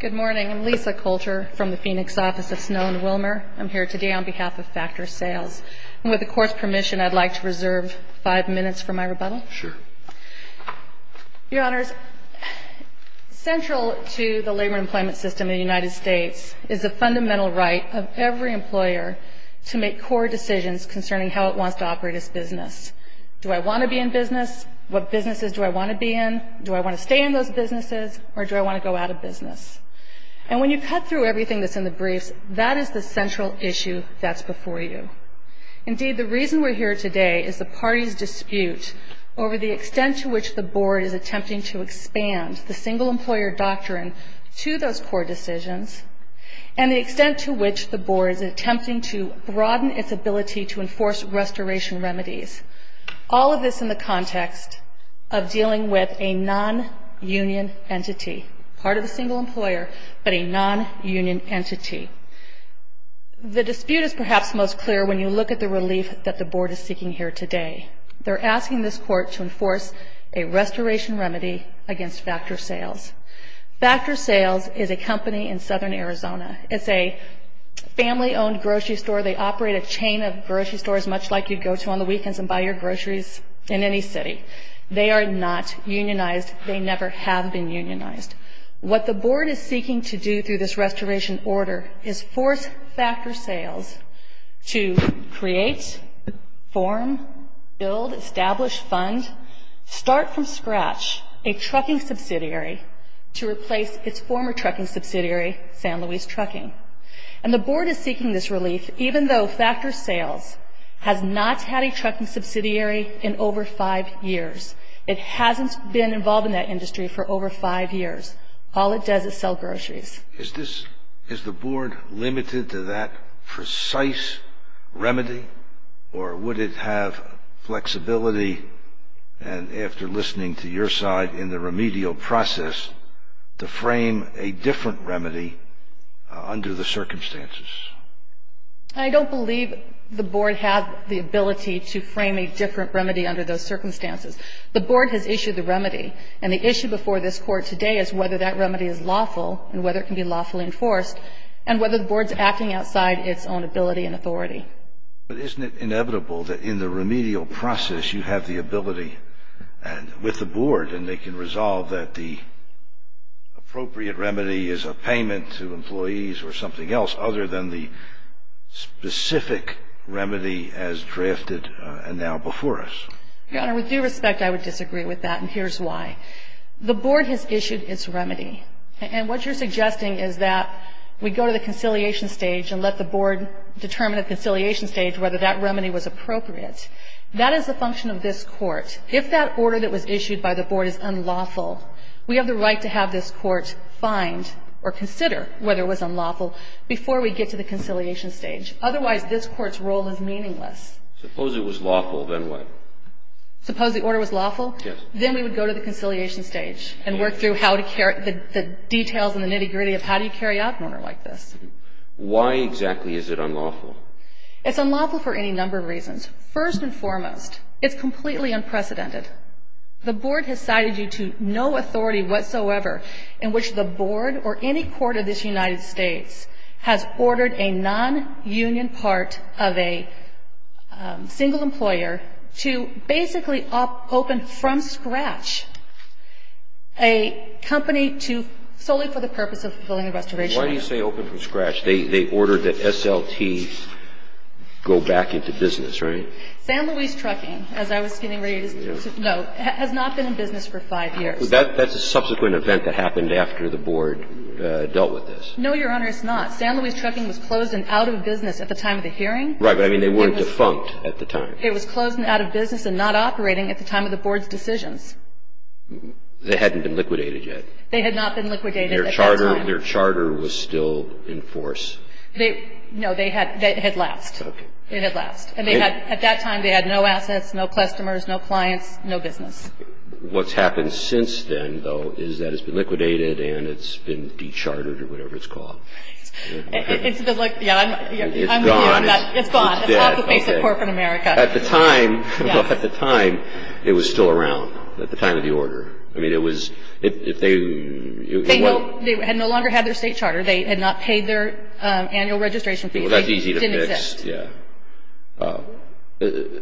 Good morning. I'm Lisa Coulter from the Phoenix office of Snow and Wilmer. I'm here today on behalf of Factor Sales. With the Court's permission, I'd like to reserve five minutes for my rebuttal. Your Honors, central to the labor employment system in the United States is the fundamental right of every employer to make core decisions concerning how it wants to operate its business. Do I want to be in business? What businesses do I want to be in? Do I want to stay in those businesses or do I want to go out of business? And when you cut through everything that's in the briefs, that is the central issue that's before you. Indeed, the reason we're here today is the party's dispute over the extent to which the Board is attempting to expand the single employer doctrine to those core decisions and the extent to which the Board is attempting to broaden its ability to enforce restoration remedies. All of this in the context of dealing with a non-union entity. Part of the single employer, but a non-union entity. The dispute is perhaps most clear when you look at the relief that the Board is seeking here today. They're asking this Court to enforce a restoration remedy against Factor Sales. Factor Sales is a company in southern Arizona. It's a family-owned grocery store. They operate a chain of grocery stores, much like you'd go to on the weekends and buy your groceries in any city. They are not unionized. They never have been unionized. What the Board is seeking to do through this restoration order is force Factor Sales to create, form, build, establish, fund, start from scratch a trucking subsidiary to replace its former trucking subsidiary, San Luis Trucking. The Board is seeking this relief even though Factor Sales has not had a trucking subsidiary in over five years. It hasn't been involved in that industry for over five years. All it does is sell groceries. Is the Board limited to that precise remedy, or would it have flexibility after listening to your side in the remedial process to frame a different remedy under the circumstances? I don't believe the Board has the ability to frame a different remedy under those circumstances. The Board has issued the remedy, and the issue before this Court today is whether that remedy is lawful and whether it can be lawfully enforced, and whether the Board's acting outside its own ability and authority. But isn't it inevitable that in the remedial process you have the ability with the Board and they can resolve that the appropriate remedy is a payment to employees or something else other than the specific remedy as drafted and now before us? Your Honor, with due respect, I would disagree with that, and here's why. The Board has issued its remedy, and what you're suggesting is that we go to the conciliation stage and let the Board determine at conciliation stage whether that remedy was appropriate. That is the function of this Court. If that order that was issued by the Board is unlawful, we have the right to have this Court find or consider whether it was unlawful before we get to the conciliation stage. Otherwise, this Court's role is meaningless. Suppose it was lawful, then what? Suppose the order was lawful? Yes. Then we would go to the conciliation stage and work through how to carry the details and the nitty-gritty of how do you carry out an order like this. Why exactly is it unlawful? It's unlawful for any number of reasons. First and foremost, it's completely unprecedented. The Board has cited you to no authority whatsoever in which the Board or any court of this United States has ordered a non-union part of a single employer to basically open from scratch Why do you say open from scratch? They ordered that SLT go back into business, right? San Luis Trucking, as I was getting ready to note, has not been in business for five years. That's a subsequent event that happened after the Board dealt with this. No, Your Honor, it's not. San Luis Trucking was closed and out of business at the time of the hearing. Right, but I mean they weren't defunct at the time. It was closed and out of business and not operating at the time of the Board's decisions. They hadn't been liquidated yet. They had not been liquidated at that time. Their charter was still in force. No, it had lapsed. It had lapsed. At that time, they had no assets, no customers, no clients, no business. What's happened since then, though, is that it's been liquidated and it's been de-chartered or whatever it's called. It's gone. It's gone. It's off the face of corporate America. At the time, it was still around at the time of the order. I mean, it was, if they, it wasn't. They had no longer had their state charter. They had not paid their annual registration fee. Well, that's easy to fix. Yeah.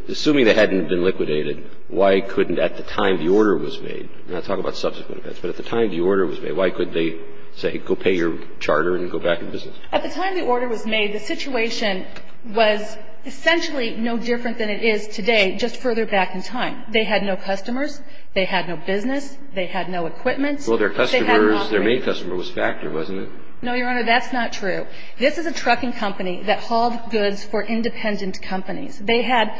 Assuming they hadn't been liquidated, why couldn't, at the time the order was made, I'm not talking about subsequent events, but at the time the order was made, why couldn't they say, go pay your charter and go back in business? At the time the order was made, the situation was essentially no different than it is today, just further back in time. They had no customers. They had no business. They had no equipment. Well, their customers, their main customer was Factor, wasn't it? No, Your Honor, that's not true. This is a trucking company that hauled goods for independent companies. They had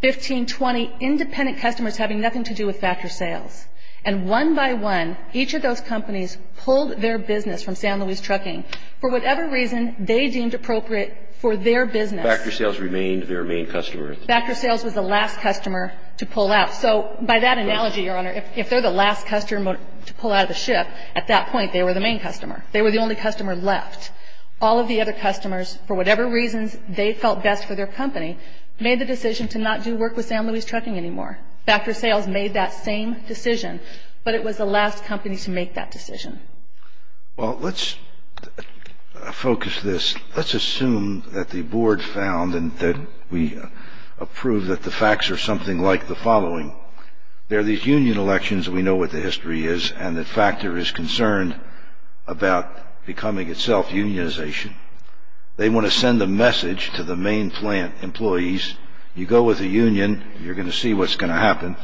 15, 20 independent customers having nothing to do with Factor Sales. And one by one, each of those companies pulled their business from San Luis Trucking. For whatever reason, they deemed appropriate for their business. Factor Sales remained their main customer. Factor Sales was the last customer to pull out. So by that analogy, Your Honor, if they're the last customer to pull out of the ship, at that point, they were the main customer. They were the only customer left. All of the other customers, for whatever reasons they felt best for their company, made the decision to not do work with San Luis Trucking anymore. Factor Sales made that same decision, but it was the last company to make that decision. Well, let's focus this. Let's assume that the board found and that we approved that the facts are something like the following. There are these union elections. We know what the history is and that Factor is concerned about becoming itself unionization. They want to send a message to the main plant employees. You go with a union, you're going to see what's going to happen.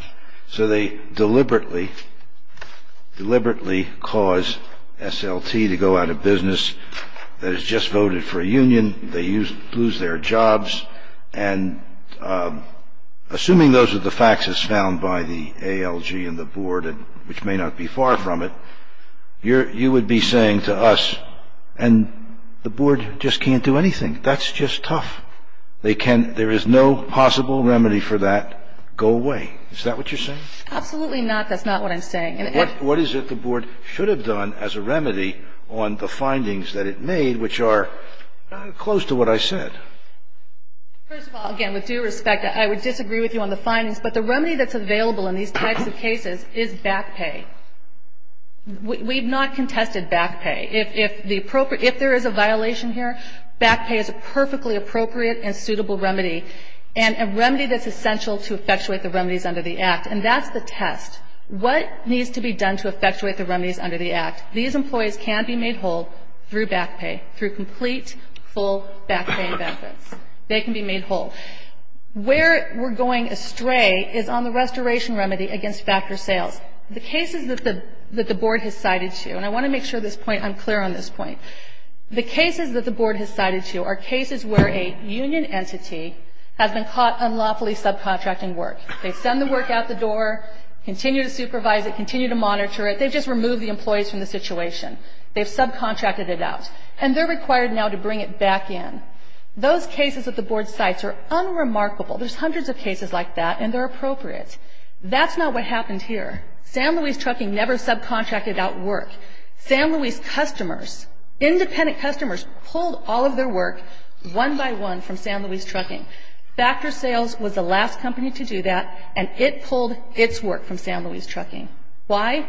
So they deliberately cause SLT to go out of business. They just voted for a union. They lose their jobs. And assuming those are the facts as found by the ALG and the board, which may not be far from it, you would be saying to us, and the board just can't do anything. That's just tough. There is no possible remedy for that. Go away. Is that what you're saying? Absolutely not. That's not what I'm saying. What is it the board should have done as a remedy on the findings that it made, which are close to what I said? First of all, again, with due respect, I would disagree with you on the findings, but the remedy that's available in these types of cases is back pay. We've not contested back pay. If the appropriate – if there is a violation here, back pay is a perfectly appropriate and suitable remedy, and a remedy that's essential to effectuate the remedies under the Act. And that's the test. What needs to be done to effectuate the remedies under the Act? These employees can be made whole through back pay, through complete, full back pay benefits. They can be made whole. Where we're going astray is on the restoration remedy against factor sales. The cases that the board has cited to – and I want to make sure this point – I'm clear on this point. The cases that the board has cited to are cases where a union entity has been caught unlawfully subcontracting work. They send the work out the door, continue to supervise it, continue to monitor it. They've just removed the employees from the situation. They've subcontracted it out, and they're required now to bring it back in. Those cases that the board cites are unremarkable. There's hundreds of cases like that, and they're appropriate. That's not what happened here. San Luis Trucking never subcontracted out work. San Luis customers, independent customers, pulled all of their work one by one from San Luis Trucking. Factor sales was the last company to do that, and it pulled its work from San Luis Trucking. Why?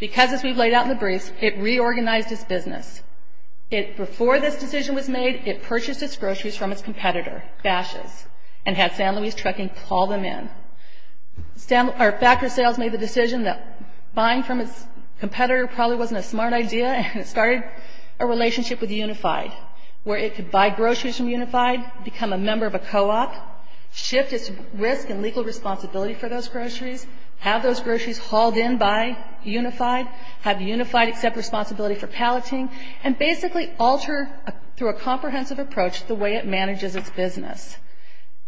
Because, as we've laid out in the briefs, it reorganized its business. Before this decision was made, it purchased its groceries from its competitor, Bashes, and had San Luis Trucking call them in. Factor sales made the decision that buying from its competitor probably wasn't a smart idea, and it started a relationship with Unified, where it could buy groceries from Unified, become a member of a co-op, shift its risk and legal responsibility for those groceries, have those groceries hauled in by Unified, have Unified accept responsibility for palleting, and basically alter, through a comprehensive approach, the way it manages its business.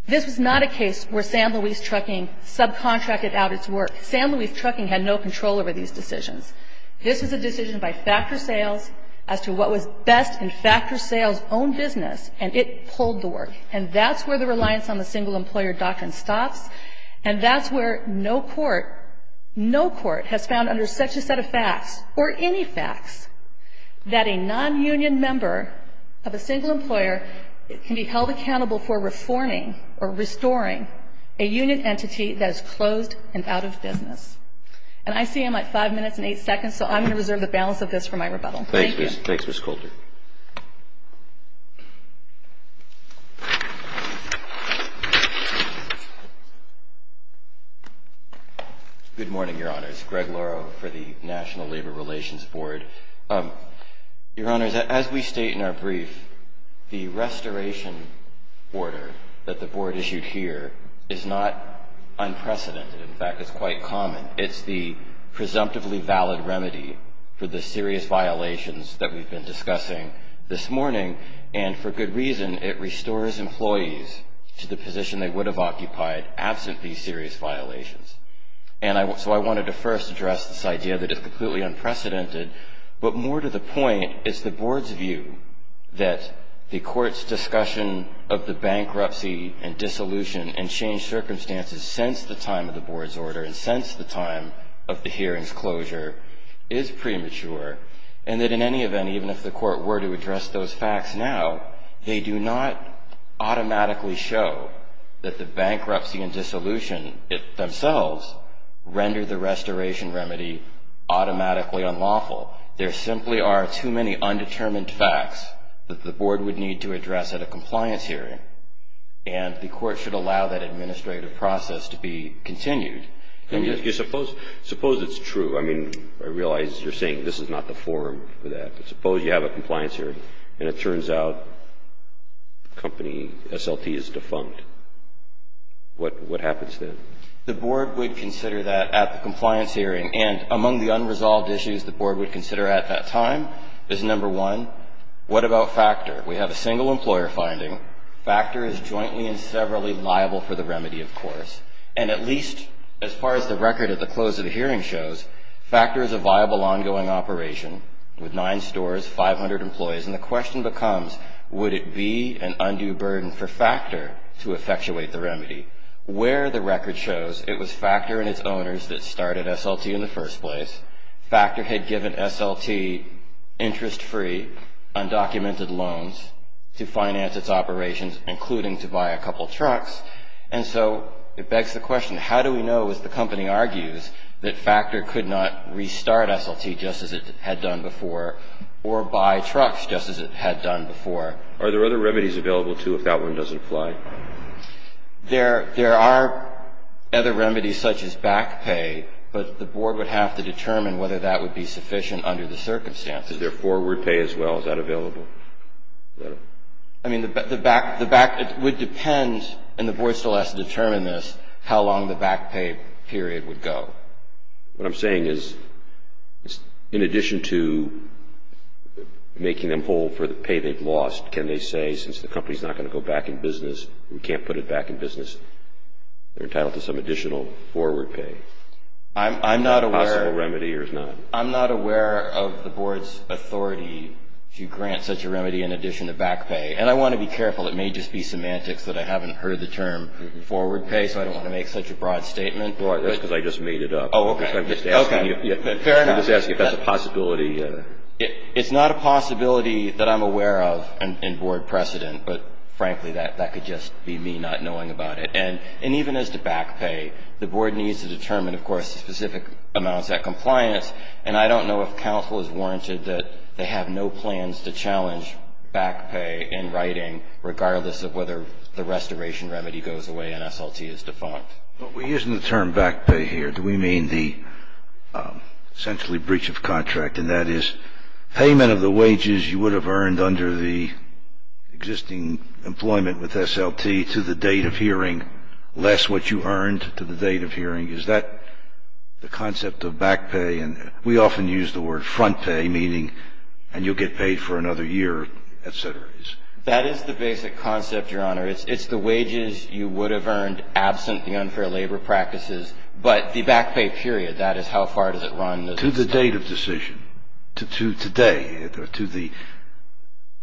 This was not a case where San Luis Trucking subcontracted out its work. San Luis Trucking had no control over these decisions. This was a decision by factor sales as to what was best in factor sales' own business, and it pulled the work. And that's where the reliance on the single employer doctrine stops, and that's where no court, no court has found under such a set of facts, or any facts, that a non-union member of a single employer can be held accountable for reforming or restoring a union entity that is closed and out of business. And I see I'm at five minutes and eight seconds, so I'm going to reserve the balance of this for my rebuttal. Thank you. Thanks, Ms. Coulter. Good morning, Your Honors. Greg Lauro for the National Labor Relations Board. Your Honors, as we state in our brief, the restoration order that the Board issued here is not unprecedented. In fact, it's quite common. It's the presumptively valid remedy for the serious violations that we've been discussing this morning, and for good reason, it restores employees to the position they would have occupied absent these serious violations. And so I wanted to first address this idea that it's completely unprecedented, but more to the point, it's the Board's view that the Court's discussion of the bankruptcy and dissolution and changed circumstances since the time of the Board's order and since the time of the hearing's closure is premature, and that in any event, even if the Court were to address those facts now, they do not automatically show that the bankruptcy and dissolution themselves render the restoration remedy automatically unlawful. There simply are too many undetermined facts that the Board would need to address at a compliance hearing, and the Court should allow that administrative process to be continued. Suppose it's true. I mean, I realize you're saying this is not the forum for that, but suppose you have a compliance hearing, and it turns out the company, SLT, is defunct. What happens then? The Board would consider that at the compliance hearing, and among the unresolved issues the Board would consider at that time is, number one, what about factor? We have a single employer finding. Factor is jointly and severally liable for the remedy, of course, and at least as far as the record at the close of the hearing shows, factor is a viable ongoing operation with nine stores, 500 employees, and the question becomes, would it be an undue burden for factor to effectuate the remedy? Where the record shows, it was factor and its owners that started SLT in the first place. Factor had given SLT interest-free undocumented loans to finance its operations, including to buy a couple trucks, and so it begs the question, how do we know, as the company argues, that factor could not restart SLT just as it had done before or buy trucks just as it had done before? Are there other remedies available, too, if that one doesn't apply? There are other remedies such as back pay, but the Board would have to determine whether that would be sufficient under the circumstances. Is there forward pay as well? Is that available? I mean, the back would depend, and the Board still has to determine this, how long the back pay period would go. What I'm saying is, in addition to making them hold for the pay they've lost, can they say, since the company is not going to go back in business, we can't put it back in business, they're entitled to some additional forward pay? I'm not aware of the Board's authority to grant such a remedy in addition to back pay, and I want to be careful. It may just be semantics that I haven't heard the term forward pay, so I don't want to make such a broad statement. That's because I just made it up. Oh, okay. I'm just asking if that's a possibility. It's not a possibility that I'm aware of in Board precedent, but frankly, that could just be me not knowing about it. And even as to back pay, the Board needs to determine, of course, specific amounts at compliance, and I don't know if counsel is warranted that they have no plans to challenge back pay in writing, regardless of whether the restoration remedy goes away and SLT is defunct. But we're using the term back pay here. Do we mean the essentially breach of contract, and that is payment of the wages you would have earned under the existing employment with SLT to the date of hearing, less what you earned to the date of hearing? Is that the concept of back pay? And we often use the word front pay, meaning, and you'll get paid for another year, et cetera. That is the basic concept, Your Honor. It's the wages you would have earned absent the unfair labor practices, but the back pay period, that is how far does it run. To the date of decision, to today,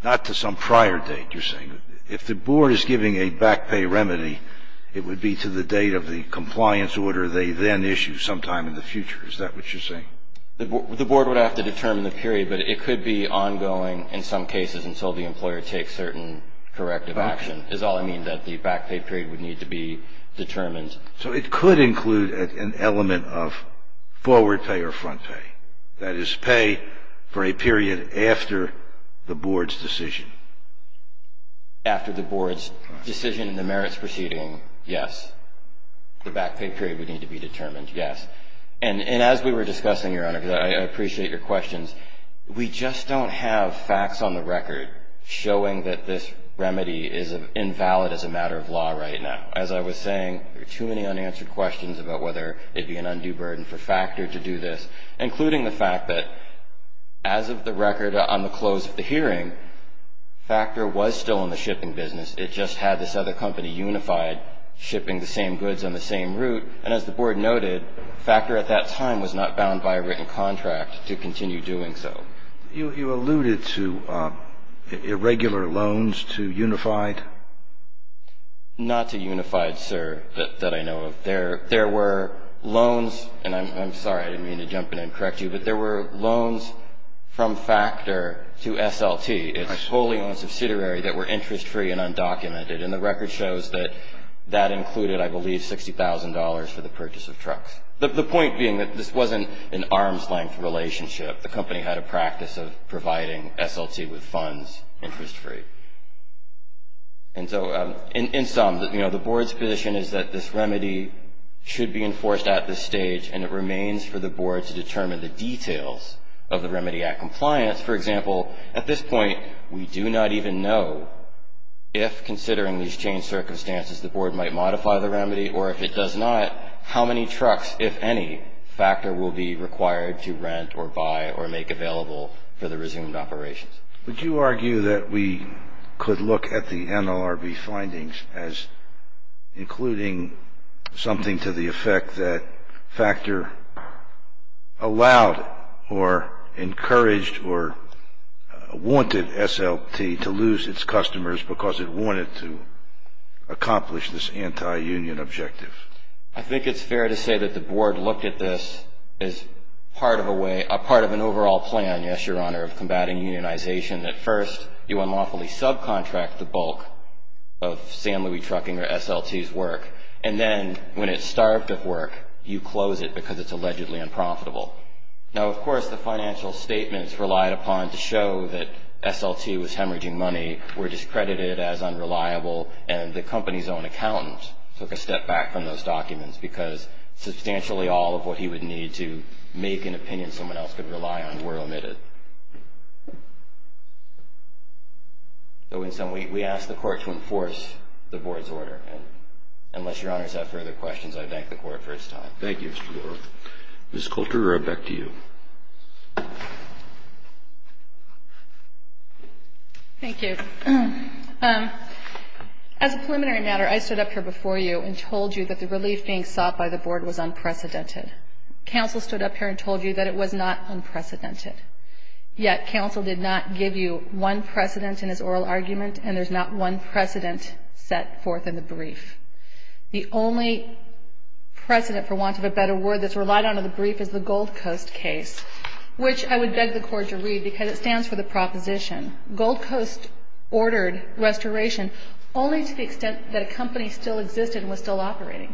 not to some prior date, you're saying. If the Board is giving a back pay remedy, it would be to the date of the compliance order they then issue sometime in the future. Is that what you're saying? The Board would have to determine the period, but it could be ongoing in some cases until the employer takes certain corrective action, is all I mean that the back pay period would need to be determined. So it could include an element of forward pay or front pay. That is pay for a period after the Board's decision. After the Board's decision in the merits proceeding, yes. The back pay period would need to be determined, yes. And as we were discussing, Your Honor, because I appreciate your questions, we just don't have facts on the record showing that this remedy is invalid as a matter of law right now. As I was saying, there are too many unanswered questions about whether it would be an undue burden for Factor to do this, including the fact that as of the record on the close of the hearing, Factor was still in the shipping business. It just had this other company, Unified, shipping the same goods on the same route. And as the Board noted, Factor at that time was not bound by a written contract to continue doing so. You alluded to irregular loans to Unified? Not to Unified, sir, that I know of. There were loans, and I'm sorry, I didn't mean to jump in and correct you, but there were loans from Factor to SLT, its wholly owned subsidiary, that were interest-free and undocumented. And the record shows that that included, I believe, $60,000 for the purchase of trucks. The point being that this wasn't an arm's-length relationship. The company had a practice of providing SLT with funds interest-free. And so in sum, you know, the Board's position is that this remedy should be enforced at this stage, and it remains for the Board to determine the details of the remedy at compliance. For example, at this point, we do not even know if, considering these changed circumstances, the Board might modify the remedy, or if it does not, how many trucks, if any, Factor will be required to rent or buy or make available for the resumed operations. Would you argue that we could look at the NLRB findings as including something to the effect that Factor allowed or encouraged or wanted SLT to lose its customers because it wanted to accomplish this anti-union objective? I think it's fair to say that the Board looked at this as part of an overall plan, yes, Your Honor, of combating unionization. At first, you unlawfully subcontract the bulk of San Luis Trucking or SLT's work, and then when it's starved of work, you close it because it's allegedly unprofitable. Now, of course, the financial statements relied upon to show that SLT was hemorrhaging money were discredited as unreliable, and the company's own accountant took a step back from those documents because substantially all of what he would need to make an opinion someone else could rely on were omitted. So in sum, we ask the Court to enforce the Board's order, and unless Your Honors have further questions, I thank the Court for its time. Thank you, Mr. Dorff. Ms. Kulterer, back to you. Thank you. As a preliminary matter, I stood up here before you and told you that the relief being sought by the Board was unprecedented. Counsel stood up here and told you that it was not unprecedented. Yet, counsel did not give you one precedent in his oral argument, and there's not one precedent set forth in the brief. The only precedent, for want of a better word, that's relied on in the brief is the Gold Coast case, which I would beg the Court to read because it stands for the proposition. Gold Coast ordered restoration only to the extent that a company still existed and was still operating,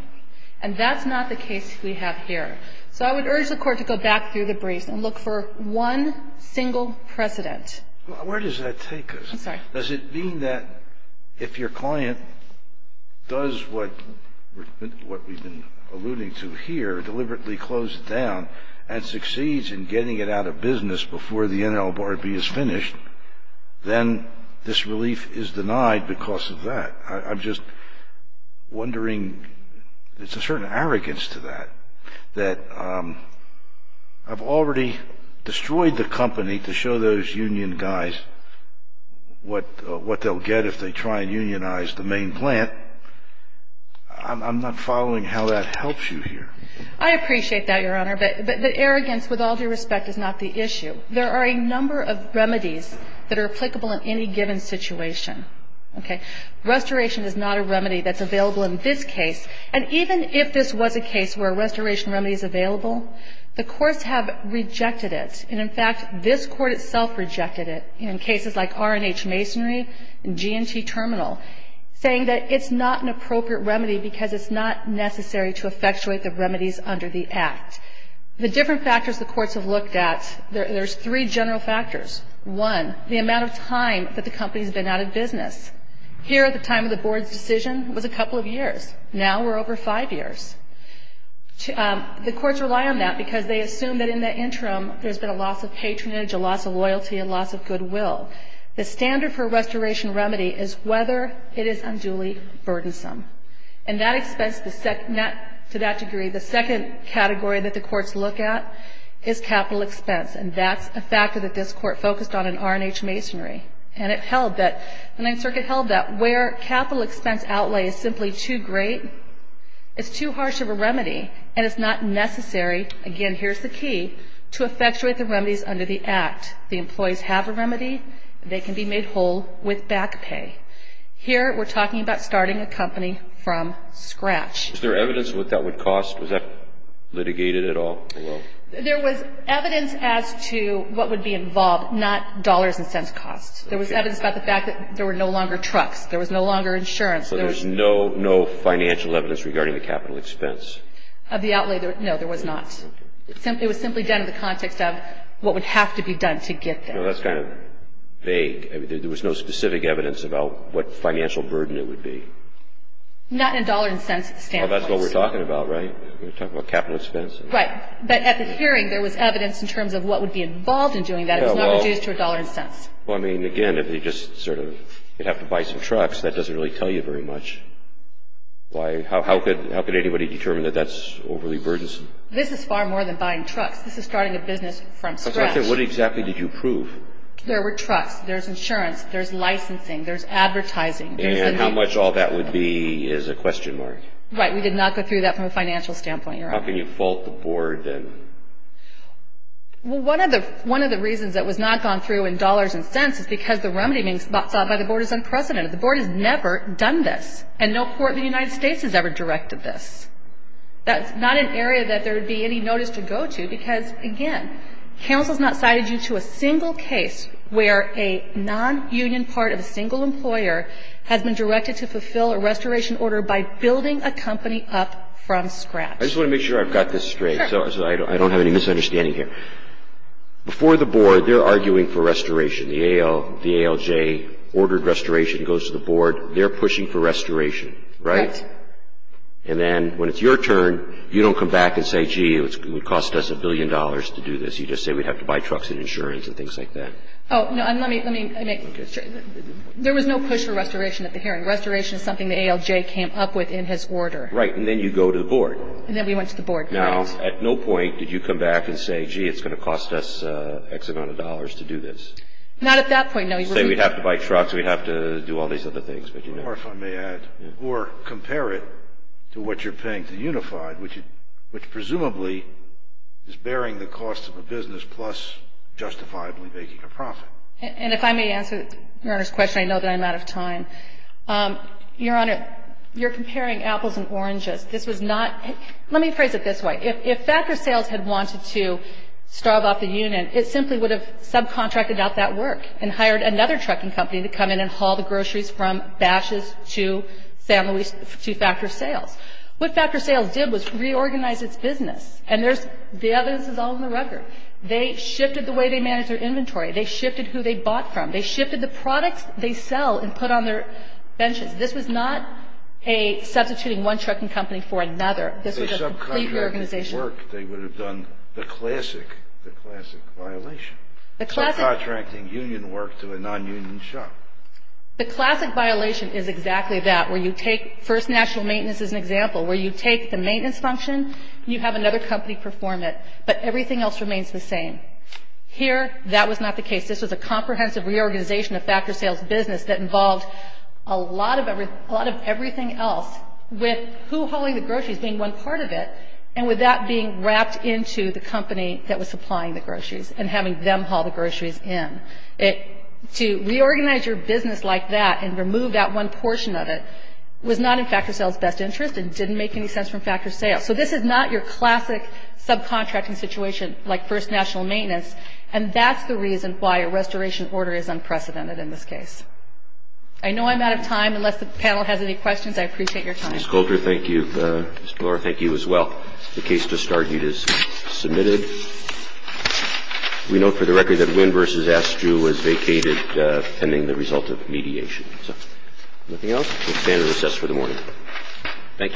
and that's not the case we have here. So I would urge the Court to go back through the briefs and look for one single precedent. Where does that take us? I'm sorry. Does it mean that if your client does what we've been alluding to here, deliberately closed it down, and succeeds in getting it out of business before the NLRB is finished, then this relief is denied because of that? I'm just wondering, there's a certain arrogance to that, that I've already destroyed the company to show those union guys what they'll get if they try and unionize the main plant. I'm not following how that helps you here. I appreciate that, Your Honor, but the arrogance, with all due respect, is not the issue. There are a number of remedies that are applicable in any given situation. Okay. Restoration is not a remedy that's available in this case. And even if this was a case where a restoration remedy is available, the courts have rejected it. And, in fact, this Court itself rejected it in cases like R&H Masonry and G&T Terminal, saying that it's not an appropriate remedy because it's not necessary to effectuate the remedies under the Act. The different factors the courts have looked at, there's three general factors. One, the amount of time that the company's been out of business. Here, the time of the board's decision was a couple of years. Now we're over five years. The courts rely on that because they assume that in the interim there's been a loss of patronage, a loss of loyalty, a loss of goodwill. The standard for a restoration remedy is whether it is unduly burdensome. And that expense, to that degree, the second category that the courts look at is capital expense. And that's a factor that this Court focused on in R&H Masonry. And it held that, the Ninth Circuit held that where capital expense outlay is simply too great, it's too harsh of a remedy, and it's not necessary, again, here's the key, to effectuate the remedies under the Act. The employees have a remedy. They can be made whole with back pay. Here we're talking about starting a company from scratch. Is there evidence of what that would cost? Was that litigated at all? There was evidence as to what would be involved, not dollars and cents cost. There was evidence about the fact that there were no longer trucks. There was no longer insurance. So there's no financial evidence regarding the capital expense? Of the outlay, no, there was not. It was simply done in the context of what would have to be done to get there. No, that's kind of vague. There was no specific evidence about what financial burden it would be. Not in dollars and cents. Oh, that's what we're talking about, right? We're talking about capital expense. Right. But at the hearing, there was evidence in terms of what would be involved in doing that. It was not reduced to a dollar and cents. Well, I mean, again, if you just sort of, you'd have to buy some trucks, that doesn't really tell you very much. How could anybody determine that that's overly burdensome? This is far more than buying trucks. This is starting a business from scratch. What exactly did you prove? There were trucks. There's insurance. There's licensing. There's advertising. And how much all that would be is a question mark. Right. We did not go through that from a financial standpoint, Your Honor. How can you fault the board then? Well, one of the reasons that was not gone through in dollars and cents is because the remedy being sought by the board is unprecedented. The board has never done this. And no court in the United States has ever directed this. That's not an area that there would be any notice to go to because, again, counsel's not cited you to a single case where a non-union part of a single employer has been directed to fulfill a restoration order by building a company up from scratch. I just want to make sure I've got this straight. Sure. So I don't have any misunderstanding here. Before the board, they're arguing for restoration. The ALJ ordered restoration. It goes to the board. They're pushing for restoration, right? Right. And then when it's your turn, you don't come back and say, gee, it would cost us a billion dollars to do this. You just say we'd have to buy trucks and insurance and things like that. Oh, no, let me make sure. There was no push for restoration at the hearing. Restoration is something the ALJ came up with in his order. Right. And then you go to the board. And then we went to the board, correct. Now, at no point did you come back and say, gee, it's going to cost us X amount of dollars to do this. Not at that point, no. You say we'd have to buy trucks, we'd have to do all these other things. Or, if I may add, or compare it to what you're paying to Unified, which presumably is bearing the cost of a business plus justifiably making a profit. And if I may answer Your Honor's question, I know that I'm out of time. Your Honor, you're comparing apples and oranges. This was not, let me phrase it this way. If Factor Sales had wanted to starve off the union, it simply would have subcontracted out that work and hired another trucking company to come in and haul the groceries from Bashes to San Luis to Factor Sales. What Factor Sales did was reorganize its business. And there's, the evidence is all in the record. They shifted the way they managed their inventory. They shifted who they bought from. They shifted the products they sell and put on their benches. This was not a substituting one trucking company for another. This was a complete reorganization. If they subcontracted work, they would have done the classic, the classic violation. The classic. Subcontracting union work to a nonunion shop. The classic violation is exactly that, where you take First National Maintenance as an example, where you take the maintenance function and you have another company perform it. But everything else remains the same. Here, that was not the case. This was a comprehensive reorganization of Factor Sales business that involved a lot of everything else, with who hauling the groceries being one part of it, and with that being wrapped into the company that was supplying the groceries and having them haul the groceries in. To reorganize your business like that and remove that one portion of it was not in Factor Sales' best interest and didn't make any sense from Factor Sales. So this is not your classic subcontracting situation, like First National Maintenance, and that's the reason why a restoration order is unprecedented in this case. I know I'm out of time. Unless the panel has any questions, I appreciate your time. Ms. Coulter, thank you. Ms. Bloor, thank you as well. The case just argued is submitted. We note for the record that Wynn v. Astruz was vacated pending the result of mediation. Anything else? We'll stand and recess for the morning. Thank you. Thank you.